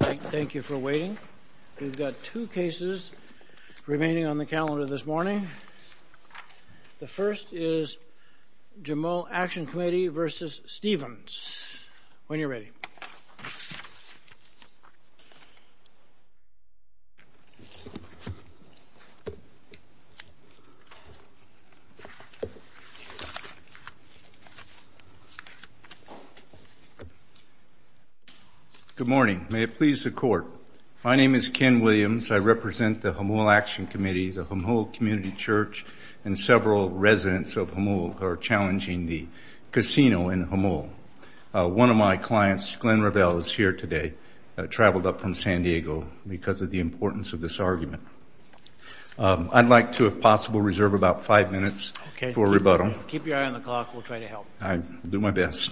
Thank you for waiting. We've got two cases remaining on the calendar this morning. The first is Jamul Action Committee v. Stevens. When you're ready. Good morning. May it please the Court. My name is Ken Williams. I represent the Jamul Action Committee, the Jamul Community Church, and several residents of Jamul who are challenging the casino in Jamul. One of my clients, Glenn Revell, is here today, traveled up from San Diego because of the importance of this argument. I'd like to, if possible, reserve about five minutes for rebuttal. Okay. Keep your eye on the clock. We'll try to help. I'll do my best.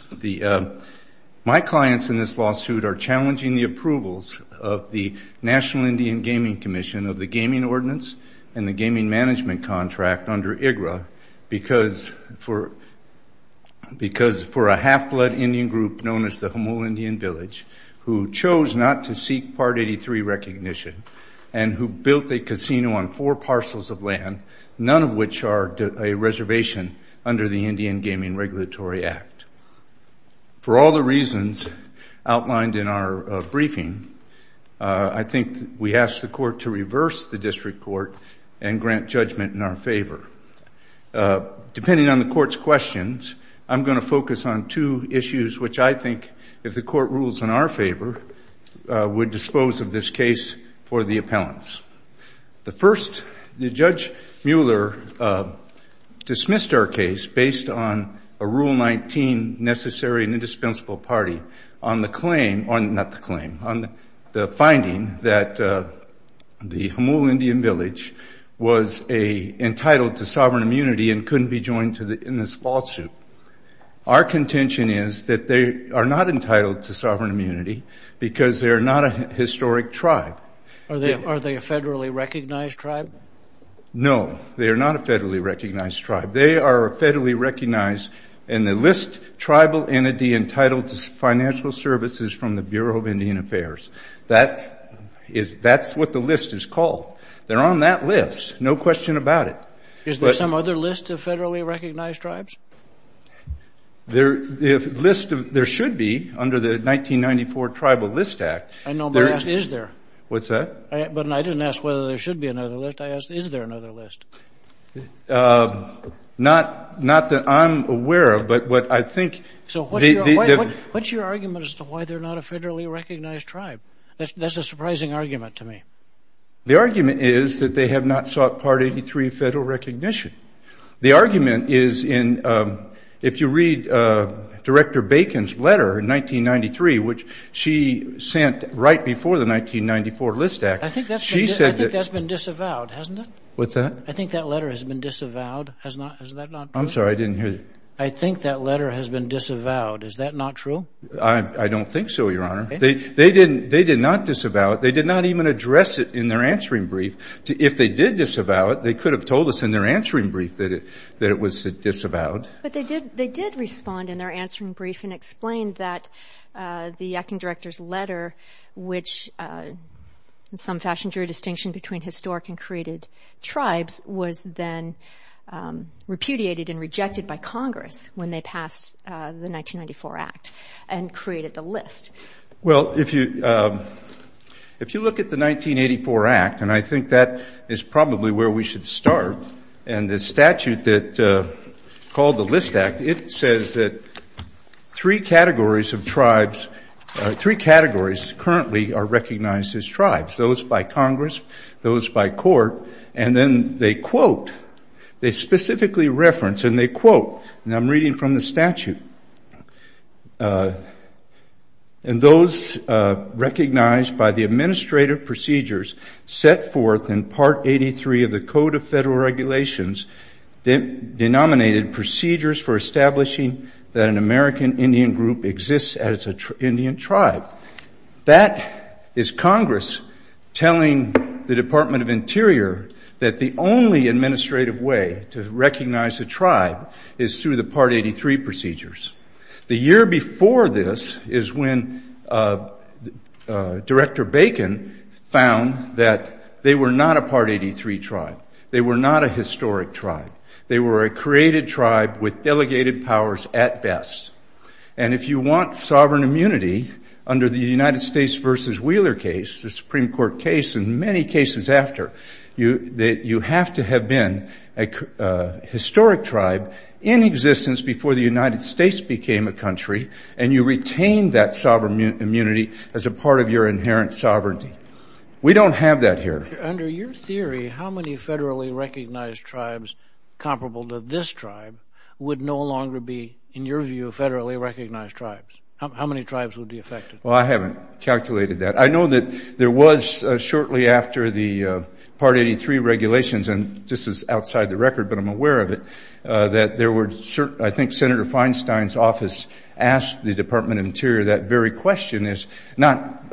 My clients in this lawsuit are challenging the approvals of the National Indian Gaming Commission of the Gaming Ordinance and the Gaming Management Contract under IGRA because for a half-blood Indian group known as the Jamul Indian Village who chose not to seek Part 83 recognition and who built a casino on four parcels of land, none of which are a reservation under the Indian Gaming Regulatory Act. For all the reasons outlined in our briefing, I think we ask the Court to reverse the district court and grant judgment in our favor. Depending on the Court's questions, I'm going to focus on two issues which I think, if the Court rules in our favor, would dispose of this case for the appellants. The first, Judge Mueller dismissed our case based on a Rule 19 necessary and indispensable party on the finding that the Jamul Indian Village was entitled to sovereign immunity and couldn't be joined in this lawsuit. Our contention is that they are not entitled to sovereign immunity because they are not a historic tribe. Are they a federally recognized tribe? No, they are not a federally recognized tribe. They are a federally recognized and they list tribal entity entitled to financial services from the Bureau of Indian Affairs. That's what the list is called. They're on that list, no question about it. Is there some other list of federally recognized tribes? There should be under the 1994 Tribal List Act. I know, but I asked, is there? What's that? I didn't ask whether there should be another list. I asked, is there another list? Not that I'm aware of, but what I think... So what's your argument as to why they're not a federally recognized tribe? That's a surprising argument to me. The argument is that they have not sought Part 83 federal recognition. The argument is in, if you read Director Bacon's letter in 1993, which she sent right before the 1994 List Act... I think that's been disavowed, hasn't it? What's that? I think that letter has been disavowed. Is that not true? I'm sorry, I didn't hear you. I think that letter has been disavowed. Is that not true? I don't think so, Your Honor. They did not disavow it. They did not even address it in their answering brief. If they did disavow it, they could have told us in their answering brief that it was disavowed. But they did respond in their answering brief and explain that the acting director's letter, which in some fashion drew a distinction between historic and created tribes, was then repudiated and rejected by Congress when they passed the 1994 Act and created the List. Well, if you look at the 1984 Act, and I think that is probably where we should start, and the statute that called the List Act, it says that three categories of tribes, three categories currently are recognized as tribes, those by Congress, those by court, and then they quote, they specifically reference, and they quote, and I'm reading from the statute, and those recognized by the administrative procedures set forth in Part 83 of the Code of Federal Regulations denominated procedures for establishing that an American Indian group exists as an Indian tribe. That is Congress telling the Department of Interior that the only administrative way to recognize a tribe is through the Part 83 procedures. The year before this is when Director Bacon found that they were not a Part 83 tribe. They were not a historic tribe. They were a created tribe with delegated powers at best. And if you want sovereign immunity under the United States v. Wheeler case, the Supreme Court case, and many cases after, you have to have been a historic tribe in existence before the United States became a country, and you retain that sovereign immunity as a part of your inherent sovereignty. We don't have that here. Under your theory, how many federally recognized tribes comparable to this tribe would no longer be, in your view, federally recognized tribes? How many tribes would be affected? Well, I haven't calculated that. I know that there was shortly after the Part 83 regulations, and this is outside the record, but I'm aware of it, that there were, I think Senator Feinstein's office asked the Department of Interior that very question is not,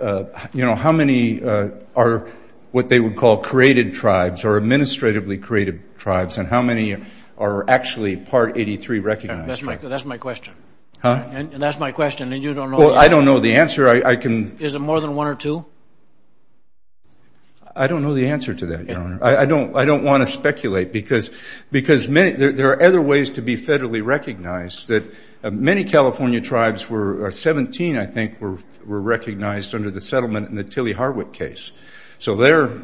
you know, how many are what they would call created tribes or administratively created tribes, and how many are actually Part 83 recognized? That's my question. Huh? And that's my question, and you don't know the answer. Well, I don't know the answer. I can... Is it more than one or two? I don't know the answer to that, Your Honor. I don't want to speculate because there are other ways to be federally recognized. Many California tribes, 17 I think, were recognized under the settlement in the Tilley-Harwick case. So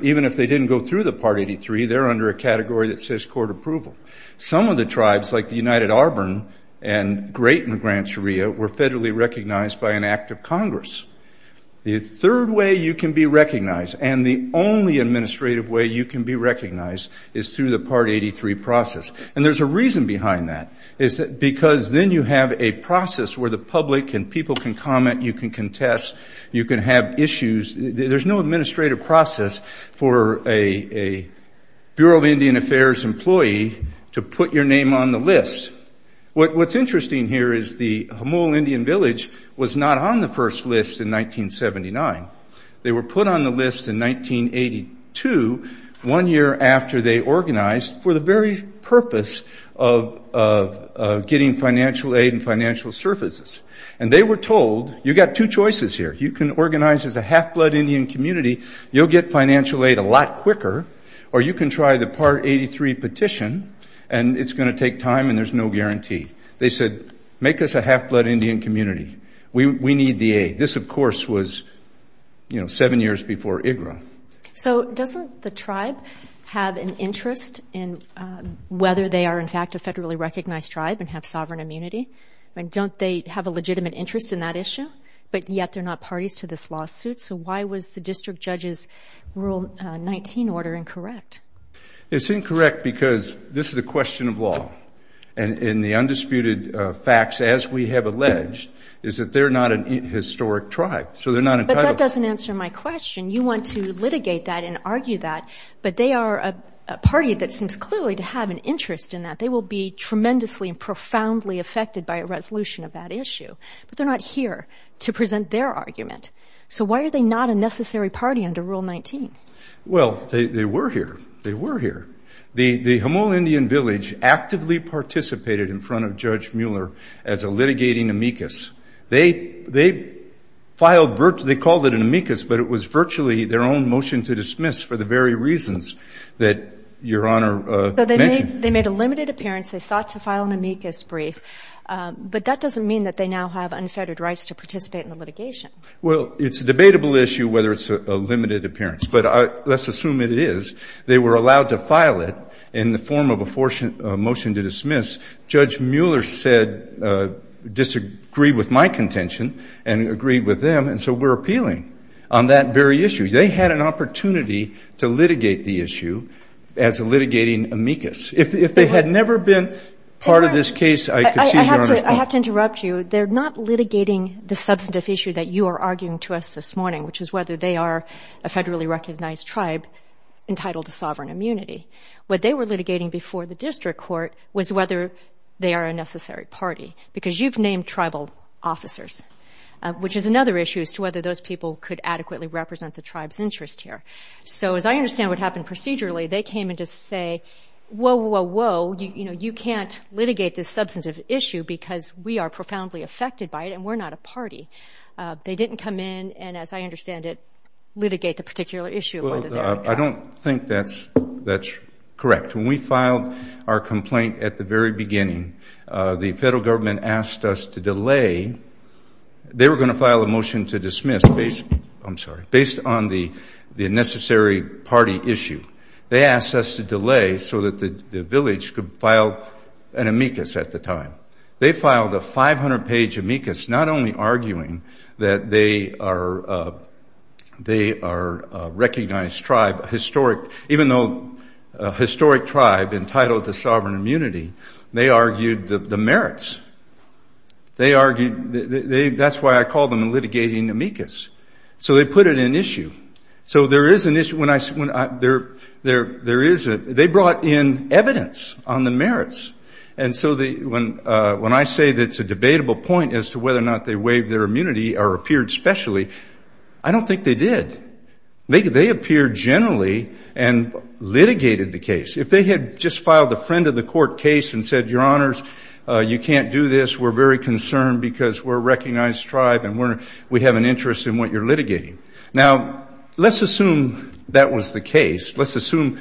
even if they didn't go through the Part 83, they're under a category that says court approval. Some of the tribes, like the United Auburn and Great and Grant Sharia, were federally recognized by an act of Congress. The third way you can be recognized, and the only administrative way you can be recognized, is through the Part 83 process, and there's a reason behind that. It's because then you have a process where the public and people can comment, you can contest, you can have issues. There's no administrative process for a Bureau of Indian Affairs employee to put your name on the list. What's interesting here is the Humol Indian Village was not on the first list in 1979. They were put on the list in 1982, one year after they organized for the very purpose of getting financial aid and financial services. And they were told, you've got two choices here. If you can organize as a half-blood Indian community, you'll get financial aid a lot quicker, or you can try the Part 83 petition, and it's going to take time and there's no guarantee. They said, make us a half-blood Indian community. We need the aid. This, of course, was, you know, seven years before IGRA. So doesn't the tribe have an interest in whether they are, in fact, a federally recognized tribe and have sovereign immunity? I mean, don't they have a legitimate interest in that issue? But yet, they're not parties to this lawsuit. So why was the district judge's Rule 19 order incorrect? It's incorrect because this is a question of law. And the undisputed facts, as we have alleged, is that they're not an historic tribe. So they're not entitled to be. But that doesn't answer my question. You want to litigate that and argue that, but they are a party that seems clearly to have an interest in that. They will be tremendously and profoundly affected by a resolution of that issue. But they're not here to present their argument. So why are they not a necessary party under Rule 19? Well, they were here. They were here. The Humboldt Indian Village actively participated in front of Judge Mueller as a litigating amicus. They called it an amicus, but it was virtually their own motion to dismiss for the very reasons that Your Honor mentioned. So they made a limited appearance. They sought to file an amicus brief. But that doesn't mean that they now have unfettered rights to participate in the litigation. Well, it's a debatable issue whether it's a limited appearance. But let's assume it is. They were allowed to file it in the form of a motion to dismiss. Judge Mueller said, disagreed with my contention and agreed with them, and so we're appealing on that very issue. They had an opportunity to litigate the issue as a litigating amicus. If they had never been part of this case, I could see Your Honor's point. I have to interrupt you. They're not litigating the substantive issue that you are arguing to us this morning, which is whether they are a federally recognized tribe entitled to sovereign immunity. What they were litigating before the district court was whether they are a necessary party, because you've named tribal officers, which is another issue as to whether those people could adequately represent the tribe's interest here. So as I understand what happened procedurally, they came in to say, whoa, whoa, whoa, you can't litigate this substantive issue because we are profoundly affected by it and we're not a party. They didn't come in and, as I understand it, litigate the particular issue of whether they are a tribe. I don't think that's correct. When we filed our complaint at the very beginning, the federal government asked us to delay. They were going to file a motion to dismiss based on the necessary party issue. They asked us to delay so that the village could file an amicus at the time. They filed a 500-page amicus not only arguing that they are a recognized tribe, even though a historic tribe entitled to sovereign immunity, they argued the merits. That's why I call them litigating amicus. So they put it in issue. They brought in evidence on the merits. And so when I say that it's a debatable point as to whether or not they waived their immunity or appeared specially, I don't think they did. They appeared generally and litigated the case. If they had just filed a friend-of-the-court case and said, Your Honors, you can't do this, we're very concerned because we're a recognized tribe and we have an interest in what you're litigating. Now, let's assume that was the case. Let's assume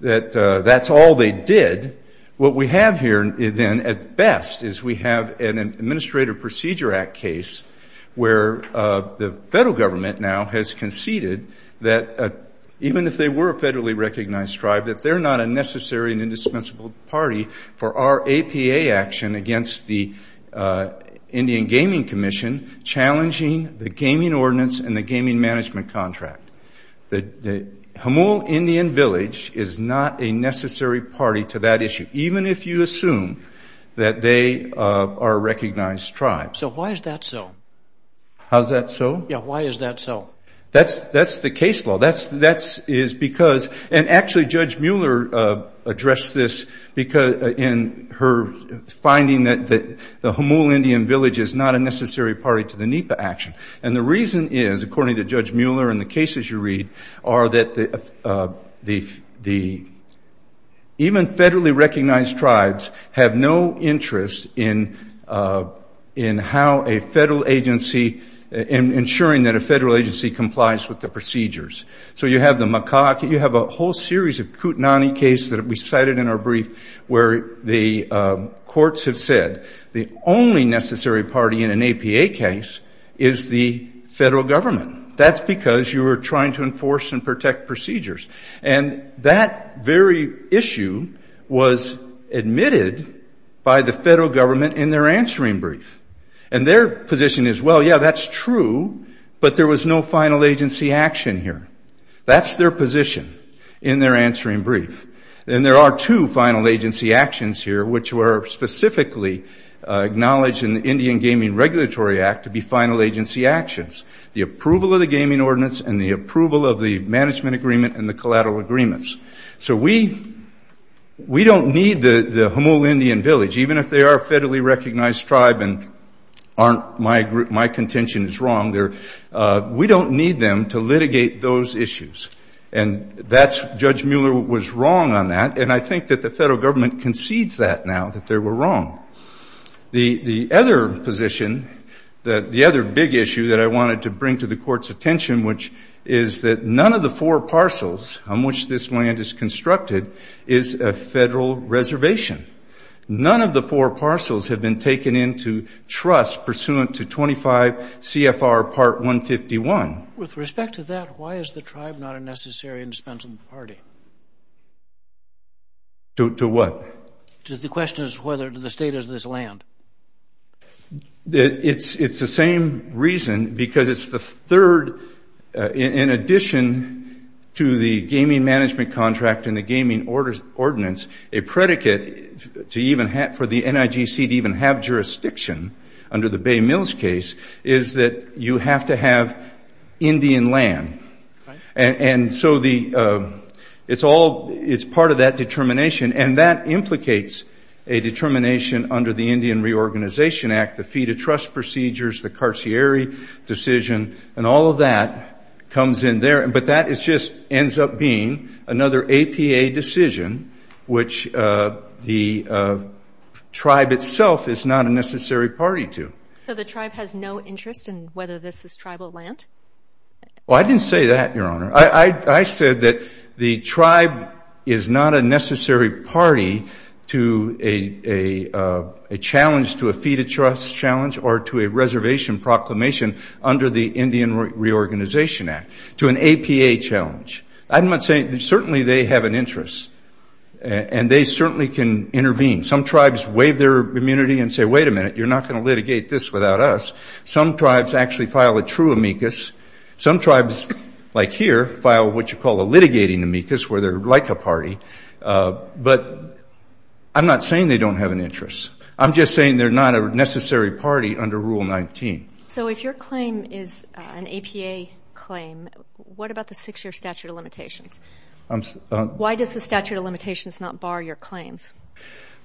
that that's all they did. What we have here, then, at best, is we have an Administrative Procedure Act case where the federal government now has conceded that even if they were a federally recognized tribe, that they're not a necessary and indispensable party for our APA action against the Indian Gaming Commission challenging the gaming ordinance and the gaming management contract. The Humboldt Indian Village is not a necessary party to that issue, even if you assume that they are a recognized tribe. So why is that so? How's that so? Yeah, why is that so? That's the case law. That is because, and actually Judge Mueller addressed this in her finding that the Humboldt Indian Village is not a necessary party to the NEPA action. And the reason is, according to Judge Mueller and the cases you read, are that even federally recognized tribes have no interest in how a federal agency, in ensuring that a federal agency complies with the procedures. So you have the Macaque, you have a whole series of Kootenai cases that we cited in our brief where the courts have said the only necessary party in an APA case is the federal government. That's because you are trying to enforce and protect procedures. And that very issue was admitted by the federal government in their answering brief. And their position is, well, yeah, that's true, but there was no final agency action here. That's their position in their answering brief. And there are two final agency actions here, which were specifically acknowledged in the Indian Gaming Regulatory Act to be final agency actions. The approval of the gaming ordinance and the approval of the management agreement and the collateral agreements. So we don't need the Humboldt Indian Village, even if they are a federally recognized tribe and my contention is wrong, we don't need them to litigate those issues. And Judge Mueller was wrong on that, and I think that the federal government concedes that now, that they were wrong. The other position, the other big issue that I wanted to bring to the court's attention, which is that none of the four parcels on which this land is constructed is a federal reservation. None of the four parcels have been taken into trust pursuant to 25 CFR Part 151. With respect to that, why is the tribe not a necessary and dispensable party? To what? The question is whether the state has this land. It's the same reason because it's the third, in addition to the gaming management contract and the gaming ordinance, a predicate for the NIGC to even have jurisdiction under the Bay Mills case is that you have to have Indian land. And so it's part of that determination. And that implicates a determination under the Indian Reorganization Act, the fee-to-trust procedures, the Carcieri decision, and all of that comes in there. But that just ends up being another APA decision, which the tribe itself is not a necessary party to. So the tribe has no interest in whether this is tribal land? Well, I didn't say that, Your Honor. I said that the tribe is not a necessary party to a challenge to a fee-to-trust challenge or to a reservation proclamation under the Indian Reorganization Act, to an APA challenge. I'm not saying that certainly they have an interest, and they certainly can intervene. Some tribes waive their immunity and say, wait a minute, you're not going to litigate this without us. Some tribes actually file a true amicus. Some tribes, like here, file what you call a litigating amicus where they're like a party. But I'm not saying they don't have an interest. I'm just saying they're not a necessary party under Rule 19. So if your claim is an APA claim, what about the six-year statute of limitations? Why does the statute of limitations not bar your claims?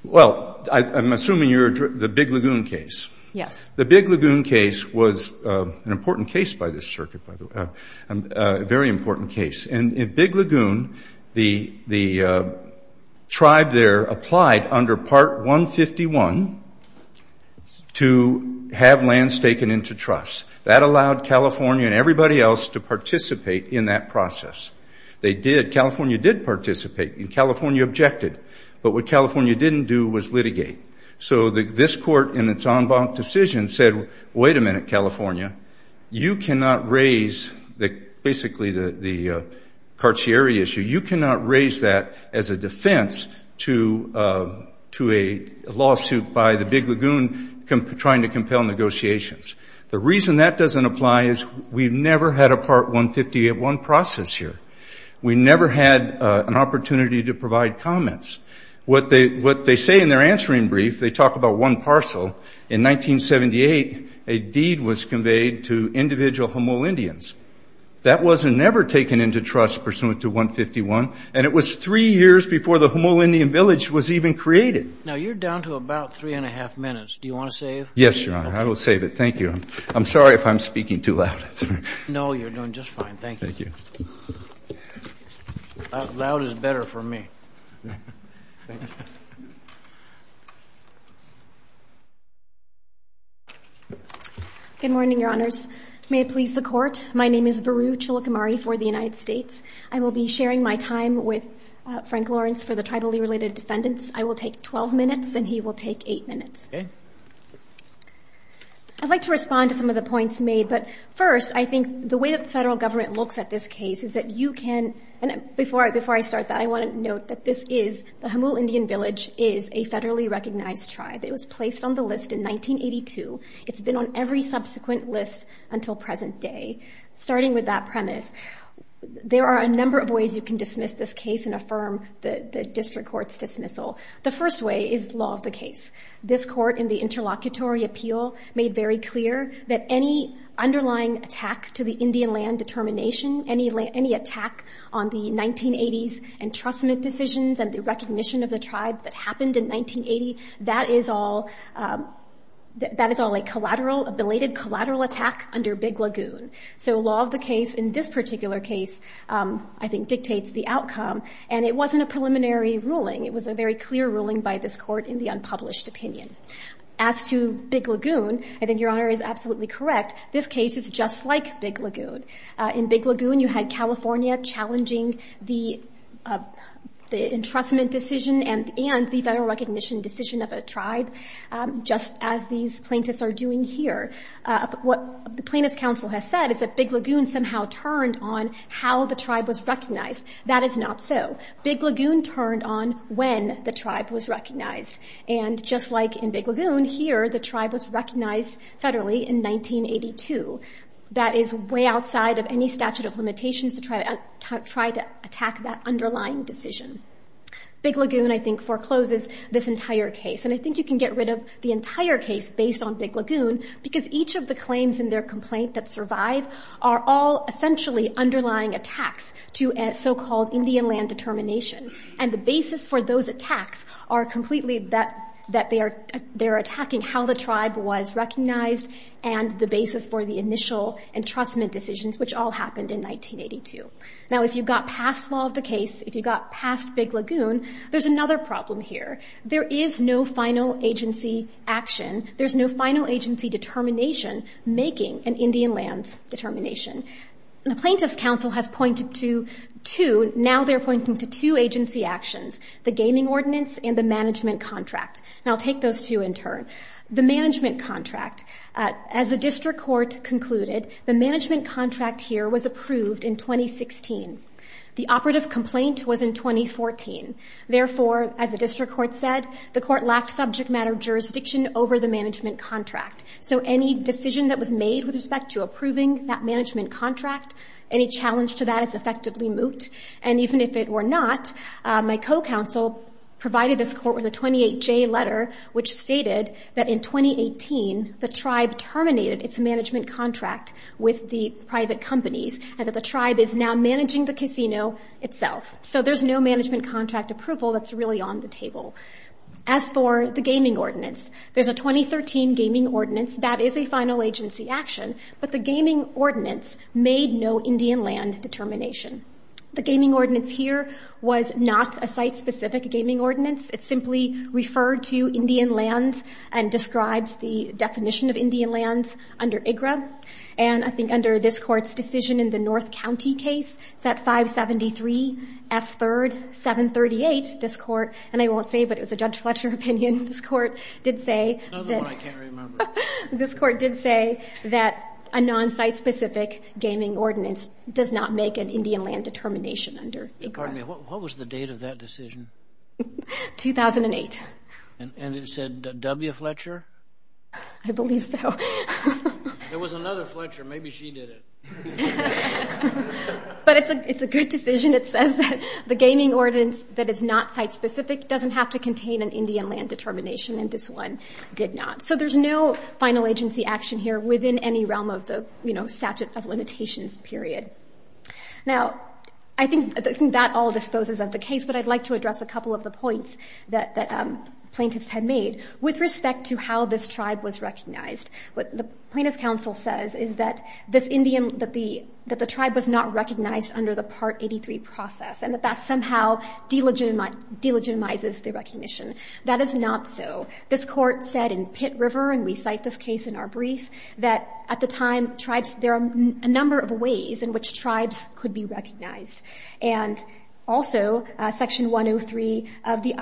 Well, I'm assuming you're the Big Lagoon case. Yes. The Big Lagoon case was an important case by this circuit, by the way, a very important case. In Big Lagoon, the tribe there applied under Part 151 to have lands taken into trust. That allowed California and everybody else to participate in that process. They did. California did participate, and California objected. But what California didn't do was litigate. So this court, in its en banc decision, said, wait a minute, California. You cannot raise basically the Cartier issue. You cannot raise that as a defense to a lawsuit by the Big Lagoon trying to compel negotiations. The reason that doesn't apply is we've never had a Part 151 process here. We never had an opportunity to provide comments. What they say in their answering brief, they talk about one parcel. In 1978, a deed was conveyed to individual Homolindians. That was never taken into trust pursuant to 151, and it was three years before the Homolindian village was even created. Now, you're down to about three and a half minutes. Do you want to save? Yes, Your Honor. I will save it. Thank you. I'm sorry if I'm speaking too loud. No, you're doing just fine. Thank you. Thank you. That loud is better for me. Thank you. Good morning, Your Honors. May it please the Court. My name is Varu Chilakamari for the United States. I will be sharing my time with Frank Lawrence for the tribally related defendants. I will take 12 minutes, and he will take eight minutes. Okay. I'd like to respond to some of the points made. But first, I think the way the federal government looks at this case is that you can – and before I start that, I want to note that this is – the Homolindian village is a federally recognized tribe. It was placed on the list in 1982. It's been on every subsequent list until present day. Starting with that premise, there are a number of ways you can dismiss this case and affirm the district court's dismissal. The first way is law of the case. This court in the interlocutory appeal made very clear that any underlying attack to the Indian land determination, any attack on the 1980s entrustment decisions and the recognition of the tribe that happened in 1980, that is all a collateral – a belated collateral attack under Big Lagoon. So law of the case in this particular case, I think, dictates the outcome. And it wasn't a preliminary ruling. It was a very clear ruling by this court in the unpublished opinion. As to Big Lagoon, I think Your Honor is absolutely correct. This case is just like Big Lagoon. In Big Lagoon, you had California challenging the entrustment decision and the federal recognition decision of a tribe, just as these plaintiffs are doing here. What the plaintiffs' counsel has said is that Big Lagoon somehow turned on how the tribe was recognized. That is not so. Big Lagoon turned on when the tribe was recognized. And just like in Big Lagoon here, the tribe was recognized federally in 1982. That is way outside of any statute of limitations to try to attack that underlying decision. Big Lagoon, I think, forecloses this entire case. And I think you can get rid of the entire case based on Big Lagoon because each of the claims in their complaint that survive are all essentially underlying attacks to a so-called Indian land determination. And the basis for those attacks are completely that they're attacking how the tribe was recognized and the basis for the initial entrustment decisions, which all happened in 1982. Now, if you got past law of the case, if you got past Big Lagoon, there's another problem here. There is no final agency action. There's no final agency determination making an Indian lands determination. The plaintiff's counsel has pointed to two. Now they're pointing to two agency actions, the gaming ordinance and the management contract. And I'll take those two in turn. The management contract, as the district court concluded, the management contract here was approved in 2016. The operative complaint was in 2014. Therefore, as the district court said, the court lacked subject matter jurisdiction over the management contract. So any decision that was made with respect to approving that management contract, any challenge to that is effectively moot. And even if it were not, my co-counsel provided this court with a 28-J letter, which stated that in 2018 the tribe terminated its management contract with the private companies and that the tribe is now managing the casino itself. So there's no management contract approval that's really on the table. As for the gaming ordinance, there's a 2013 gaming ordinance that is a final agency action, but the gaming ordinance made no Indian land determination. The gaming ordinance here was not a site-specific gaming ordinance. It simply referred to Indian lands and describes the definition of Indian lands under IGRA. And I think under this court's decision in the North County case, it's at 573 F3rd 738, this court, and I won't say, but it was a Judge Fletcher opinion, this court did say that a non-site-specific gaming ordinance does not make an Indian land determination under IGRA. What was the date of that decision? 2008. And it said W. Fletcher? I believe so. There was another Fletcher. Maybe she did it. But it's a good decision. It says that the gaming ordinance that is not site-specific doesn't have to contain an Indian land determination, and this one did not. So there's no final agency action here within any realm of the statute of limitations period. Now, I think that all disposes of the case, but I'd like to address a couple of the points that plaintiffs have made with respect to how this tribe was recognized. What the plaintiff's counsel says is that this Indian, that the tribe was not recognized under the Part 83 process and that that somehow delegitimizes the recognition. That is not so. This court said in Pitt River, and we cite this case in our brief, that at the time tribes, there are a number of ways in which tribes could be recognized. And also, Section 103 of the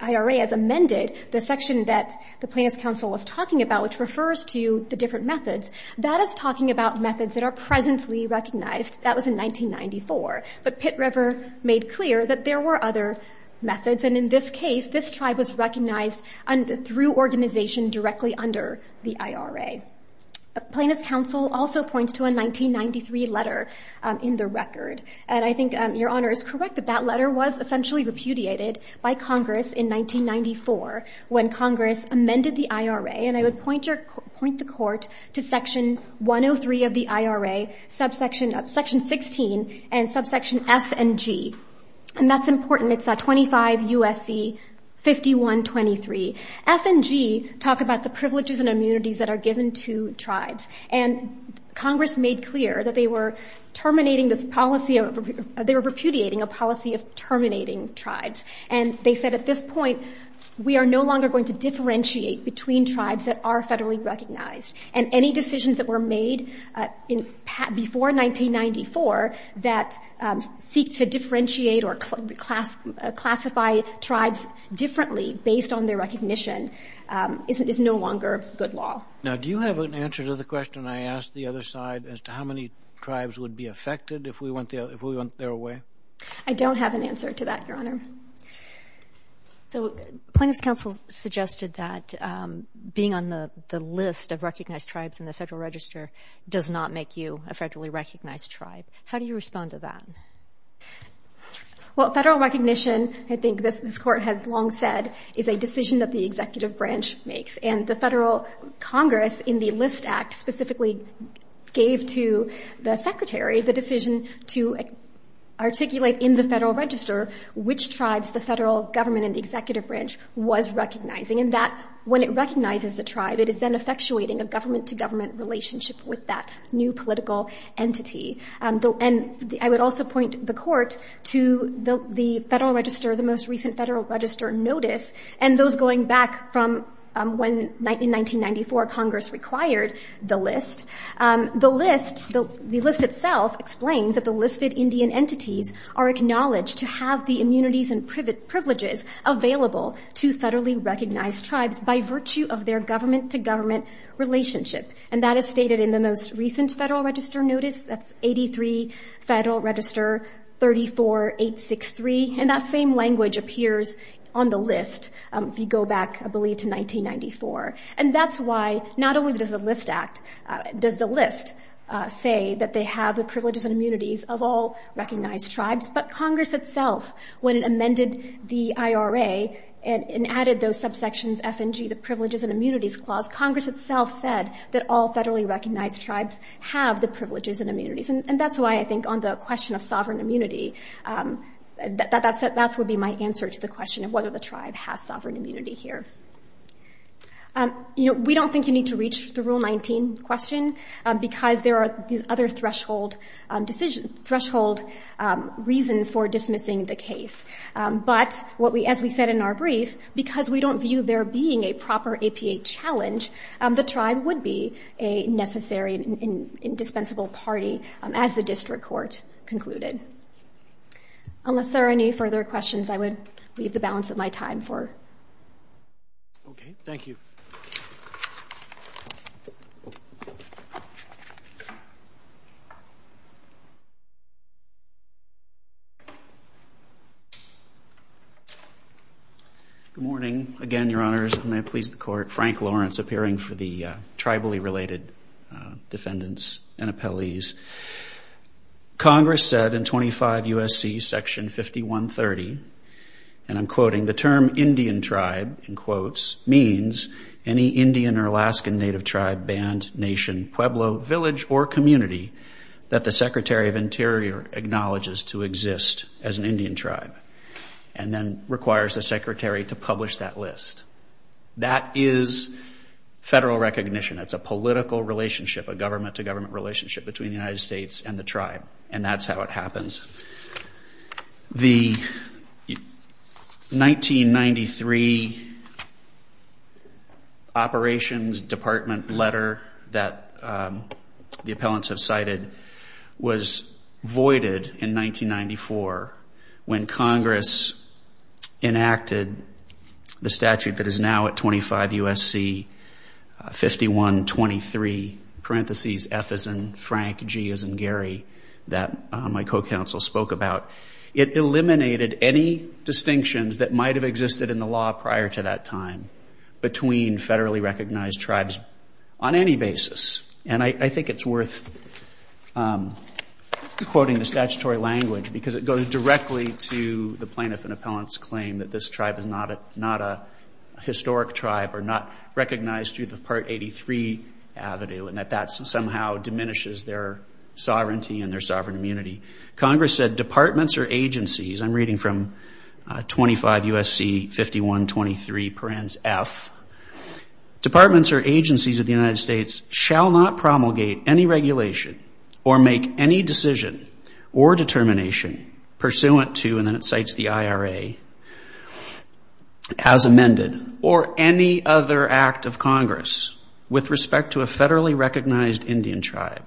IRA has amended the section that the plaintiff's counsel was talking about, which refers to the different methods. That is talking about methods that are presently recognized. That was in 1994. But Pitt River made clear that there were other methods, and in this case, this tribe was recognized through organization directly under the IRA. Plaintiff's counsel also points to a 1993 letter in the record, and I think Your Honor is correct that that letter was essentially repudiated by Congress in 1994 when Congress amended the IRA, and I would point the court to Section 103 of the IRA, Section 16, and subsection F and G. And that's important. It's 25 U.S.C. 5123. F and G talk about the privileges and immunities that are given to tribes, and Congress made clear that they were terminating this policy of, they were repudiating a policy of terminating tribes. And they said at this point, we are no longer going to differentiate between tribes that are federally recognized, and any decisions that were made before 1994 that seek to differentiate or classify tribes differently based on their recognition is no longer good law. Now, do you have an answer to the question I asked the other side as to how many tribes would be affected if we went their way? I don't have an answer to that, Your Honor. So plaintiff's counsel suggested that being on the list of recognized tribes in the Federal Register does not make you a federally recognized tribe. How do you respond to that? Well, federal recognition, I think this Court has long said, is a decision that the executive branch makes. And the Federal Congress in the List Act specifically gave to the Secretary the decision to articulate in the Federal Register which tribes the federal government and the executive branch was recognizing. And when it recognizes the tribe, it is then effectuating a government-to-government relationship with that new political entity. And I would also point the Court to the Federal Register, the most recent Federal Register notice, and those going back from when in 1994 Congress required the list. The list itself explains that the listed Indian entities are acknowledged to have the immunities and privileges available to federally recognized tribes by virtue of their government-to-government relationship. And that is stated in the most recent Federal Register notice. That's 83 Federal Register 34863. And that same language appears on the list if you go back, I believe, to 1994. And that's why not only does the List Act, does the list say that they have the privileges and immunities of all recognized tribes, but Congress itself, when it amended the IRA and added those subsections, F and G, the Privileges and Immunities Clause, Congress itself said that all federally recognized tribes have the privileges and immunities. And that's why I think on the question of sovereign immunity, that would be my answer to the question of whether the tribe has sovereign immunity here. We don't think you need to reach the Rule 19 question because there are other threshold reasons for dismissing the case. But as we said in our brief, because we don't view there being a proper APA challenge, the tribe would be a necessary and indispensable party as the district court concluded. Unless there are any further questions, I would leave the balance of my time for. Okay. Thank you. Good morning. Again, Your Honors, and may it please the Court, Frank Lawrence appearing for the tribally related defendants and appellees. Congress said in 25 U.S.C. Section 5130, and I'm quoting, the term Indian tribe, in quotes, means any Indian or Alaskan native tribe, band, nation, Pueblo, village, or community that the Secretary of Interior acknowledges to exist as an Indian tribe and then requires the Secretary to publish that list. That is federal recognition. It's a political relationship, a government-to-government relationship between the United States and the tribe, and that's how it happens. The 1993 operations department letter that the appellants have cited was voided in 1994 when Congress enacted the statute that is now at 25 U.S.C. 5123, parentheses, F as in Frank, G as in Gary, that my co-counsel spoke about. It eliminated any distinctions that might have existed in the law prior to that time between federally recognized tribes on any basis. And I think it's worth quoting the statutory language because it goes directly to the plaintiff and appellant's claim that this tribe is not a historic tribe or not recognized through the Part 83 Avenue and that that somehow diminishes their sovereignty and their sovereign immunity. Congress said departments or agencies, I'm reading from 25 U.S.C. 5123, parentheses, F, departments or agencies of the United States shall not promulgate any regulation or make any decision or determination pursuant to, and then it cites the IRA, as amended, or any other act of Congress with respect to a federally recognized Indian tribe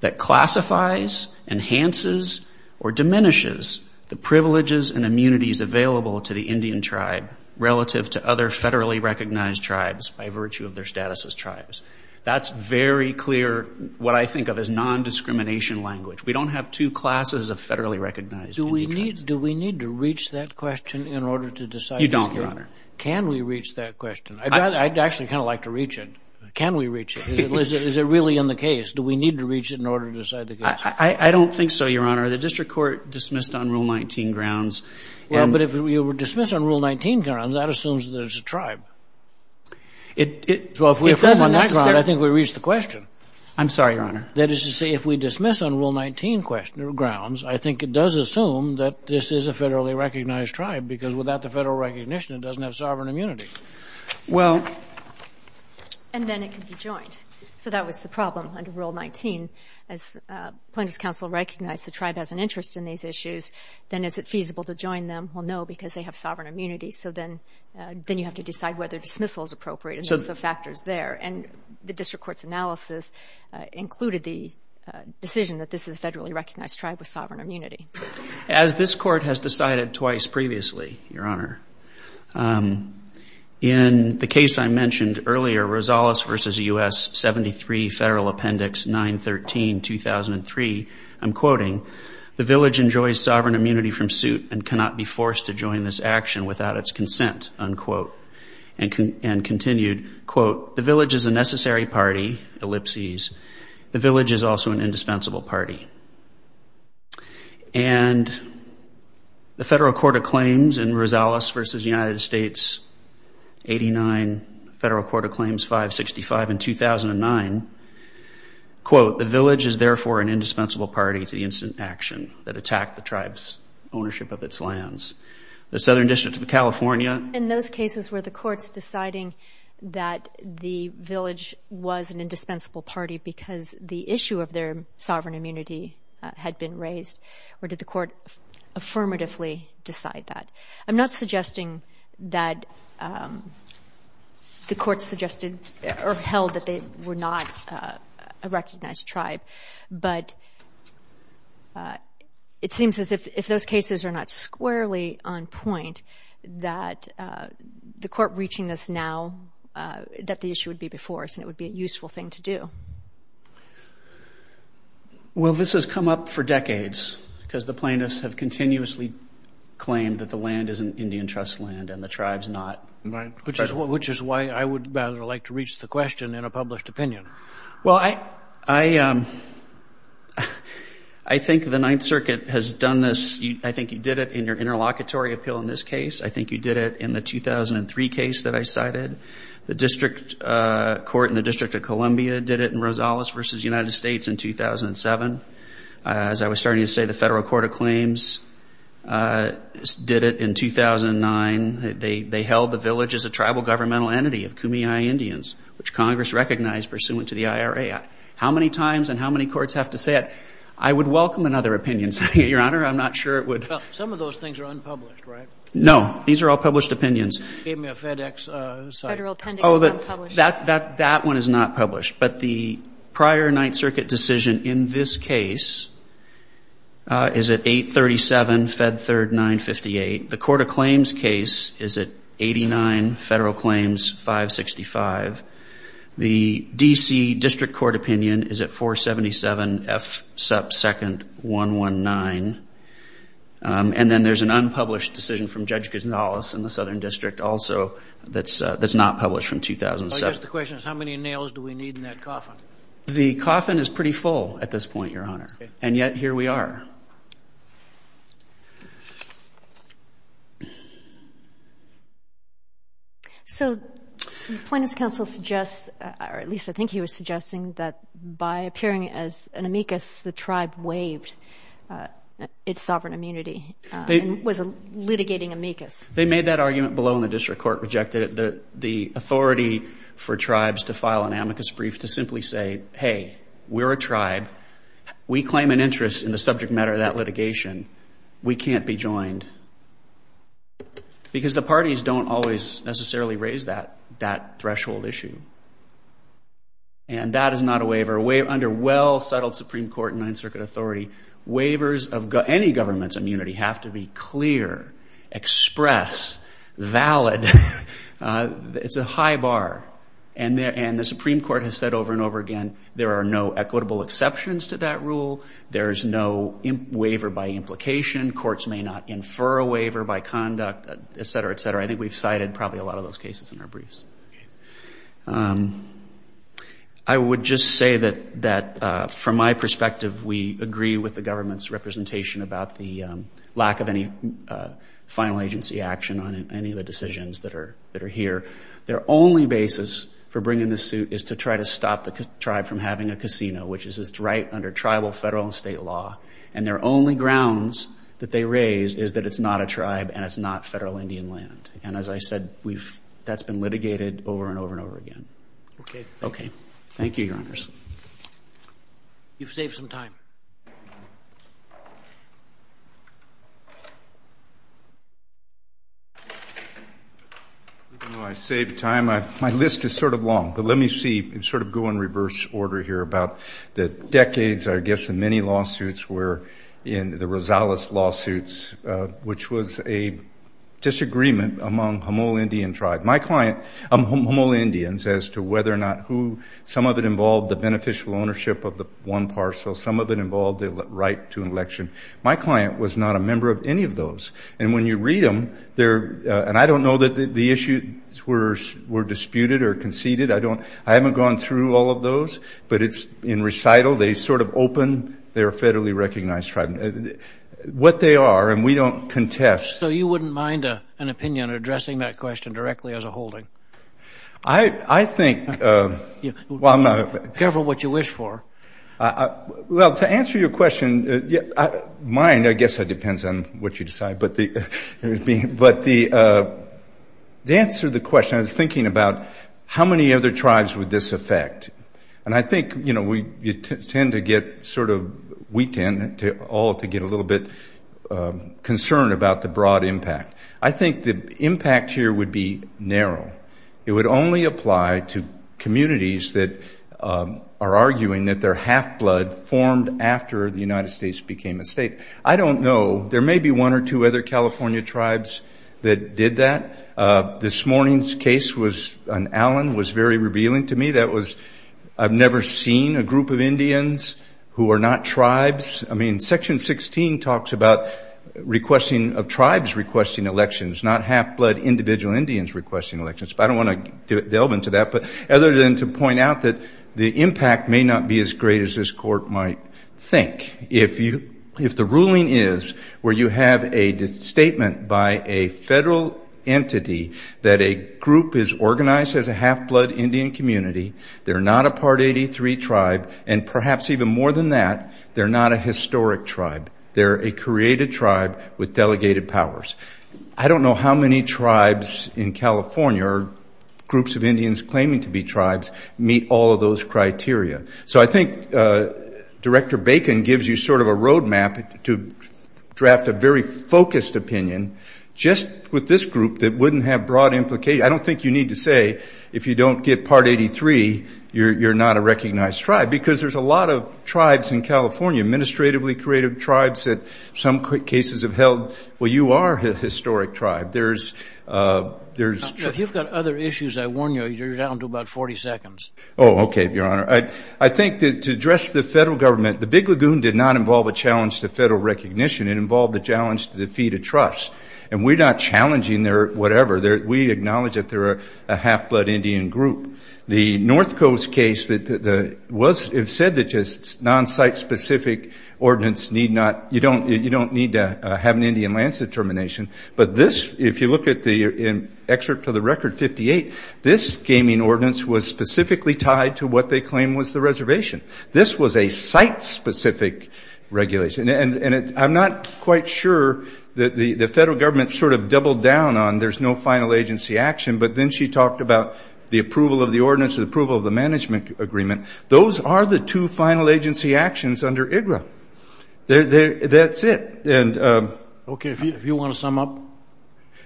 that classifies, enhances, or diminishes the privileges and immunities available to the Indian tribe relative to other federally recognized tribes by virtue of their status as tribes. That's very clear what I think of as nondiscrimination language. We don't have two classes of federally recognized Indian tribes. Do we need to reach that question in order to decide this case? You don't, Your Honor. Can we reach that question? I'd actually kind of like to reach it. Can we reach it? Is it really in the case? Do we need to reach it in order to decide the case? I don't think so, Your Honor. The district court dismissed on Rule 19 grounds. Well, but if you were to dismiss on Rule 19 grounds, that assumes there's a tribe. It doesn't necessarily. Well, if we're on that ground, I think we reached the question. I'm sorry, Your Honor. That is to say, if we dismiss on Rule 19 grounds, I think it does assume that this is a federally recognized tribe because without the federal recognition, it doesn't have sovereign immunity. And then it can be joined. So that was the problem under Rule 19. As plaintiffs' counsel recognized the tribe has an interest in these issues, then is it feasible to join them? Well, no, because they have sovereign immunity. So then you have to decide whether dismissal is appropriate. And there's some factors there. And the district court's analysis included the decision that this is a federally recognized tribe with sovereign immunity. As this court has decided twice previously, Your Honor, in the case I mentioned earlier, Rosales v. U.S., 73 Federal Appendix 913-2003, I'm quoting, the village enjoys sovereign immunity from suit and cannot be forced to join this action without its consent, unquote. And continued, quote, the village is a necessary party, ellipses. The village is also an indispensable party. And the Federal Court of Claims in Rosales v. United States, 89, Federal Court of Claims 565 in 2009, quote, the village is therefore an indispensable party to the instant action that attacked the tribe's ownership of its lands. The Southern District of California. In those cases were the courts deciding that the village was an indispensable party because the issue of their sovereign immunity had been raised, or did the court affirmatively decide that? I'm not suggesting that the courts suggested or held that they were not a recognized tribe. But it seems as if those cases are not squarely on point, that the court reaching this now, that the issue would be before us and it would be a useful thing to do. Well, this has come up for decades because the plaintiffs have continuously claimed that the land is an Indian trust land and the tribe's not. Right, which is why I would rather like to reach the question in a published opinion. Well, I think the Ninth Circuit has done this. I think you did it in your interlocutory appeal in this case. I think you did it in the 2003 case that I cited. The District Court in the District of Columbia did it in Rosales v. United States in 2007. As I was starting to say, the Federal Court of Claims did it in 2009. They held the village as a tribal governmental entity of Kumeyaay Indians, which Congress recognized pursuant to the IRA. How many times and how many courts have to say it? I would welcome another opinion, Your Honor. I'm not sure it would. Some of those things are unpublished, right? No. These are all published opinions. You gave me a FedEx site. Federal appendix unpublished. That one is not published. But the prior Ninth Circuit decision in this case is at 837 Fed Third 958. The Court of Claims case is at 89 Federal Claims 565. The D.C. District Court opinion is at 477 F Second 119. And then there's an unpublished decision from Judge Gonzales in the Southern District also that's not published from 2007. I guess the question is how many nails do we need in that coffin? The coffin is pretty full at this point, Your Honor, and yet here we are. So the Plaintiffs' Counsel suggests, or at least I think he was suggesting, that by appearing as an amicus, the tribe waived its sovereign immunity and was litigating amicus. They made that argument below and the District Court rejected it. The authority for tribes to file an amicus brief to simply say, hey, we're a tribe, we claim an interest in the subject matter of that litigation, we can't be joined. Because the parties don't always necessarily raise that threshold issue. And that is not a waiver. Under well-settled Supreme Court and Ninth Circuit authority, waivers of any government's immunity have to be clear, express, valid. It's a high bar. And the Supreme Court has said over and over again there are no equitable exceptions to that rule. There is no waiver by implication. Courts may not infer a waiver by conduct, et cetera, et cetera. I think we've cited probably a lot of those cases in our briefs. I would just say that from my perspective we agree with the government's representation about the lack of any final agency action on any of the decisions that are here. Their only basis for bringing this suit is to try to stop the tribe from having a casino, which is right under tribal, federal, and state law. And their only grounds that they raise is that it's not a tribe and it's not federal Indian land. And as I said, that's been litigated over and over and over again. Okay. Okay. Thank you, Your Honors. You've saved some time. I saved time. My list is sort of long. But let me see, sort of go in reverse order here about the decades, I guess, and many lawsuits were in the Rosales lawsuits, which was a disagreement among Homol Indian tribe. My client, Homol Indians, as to whether or not who, some of it involved the beneficial ownership of the one parcel, some of it involved the right to an election. My client was not a member of any of those. And when you read them, and I don't know that the issues were disputed or conceded. I haven't gone through all of those. But it's in recital. They sort of open. They're a federally recognized tribe. What they are, and we don't contest. So you wouldn't mind an opinion addressing that question directly as a holding? I think, well, I'm not. Careful what you wish for. Well, to answer your question, mine, I guess it depends on what you decide. But to answer the question, I was thinking about how many other tribes would this affect. And I think, you know, you tend to get sort of, we tend all to get a little bit concerned about the broad impact. I think the impact here would be narrow. It would only apply to communities that are arguing that they're half-blood formed after the United States became a state. I don't know. There may be one or two other California tribes that did that. This morning's case was an Allen, was very revealing to me. That was, I've never seen a group of Indians who are not tribes. I mean, Section 16 talks about tribes requesting elections, not half-blood individual Indians requesting elections. But I don't want to delve into that. But other than to point out that the impact may not be as great as this court might think. If the ruling is where you have a statement by a federal entity that a group is organized as a half-blood Indian community, they're not a Part 83 tribe, and perhaps even more than that, they're not a historic tribe. They're a created tribe with delegated powers. I don't know how many tribes in California or groups of Indians claiming to be tribes meet all of those criteria. So I think Director Bacon gives you sort of a road map to draft a very focused opinion, just with this group that wouldn't have broad implication. I don't think you need to say if you don't get Part 83, you're not a recognized tribe, because there's a lot of tribes in California, administratively created tribes that some cases have held, well, you are a historic tribe. There's. If you've got other issues, I warn you, you're down to about 40 seconds. Oh, okay, Your Honor. I think to address the federal government, the Big Lagoon did not involve a challenge to federal recognition. It involved a challenge to the feed of trust, and we're not challenging their whatever. We acknowledge that they're a half-blood Indian group. The North Coast case, it was said that just non-site-specific ordinance need not, you don't need to have an Indian lands determination, but this, if you look at the excerpt to the record 58, this gaming ordinance was specifically tied to what they claim was the reservation. This was a site-specific regulation, and I'm not quite sure that the federal government sort of doubled down on there's no final agency action, but then she talked about the approval of the ordinance and approval of the management agreement. Those are the two final agency actions under IGRA. That's it. Okay, if you want to sum up.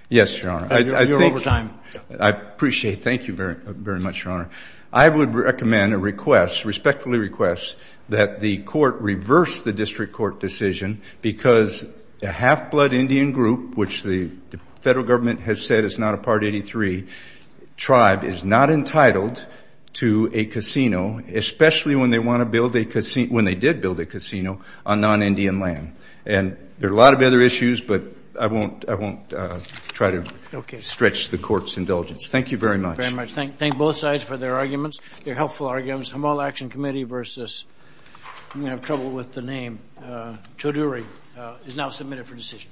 Yes, Your Honor. You're over time. I appreciate it. Thank you very much, Your Honor. I would recommend a request, respectfully request, that the court reverse the district court decision because a half-blood Indian group, which the federal government has said is not a Part 83 tribe, is not entitled to a casino, especially when they want to build a casino, when they did build a casino on non-Indian land. And there are a lot of other issues, but I won't try to stretch the court's indulgence. Thank you very much. Thank you very much. Thank both sides for their arguments, their helpful arguments. Humboldt Action Committee versus, I'm going to have trouble with the name, Choudhury, is now submitted for decision.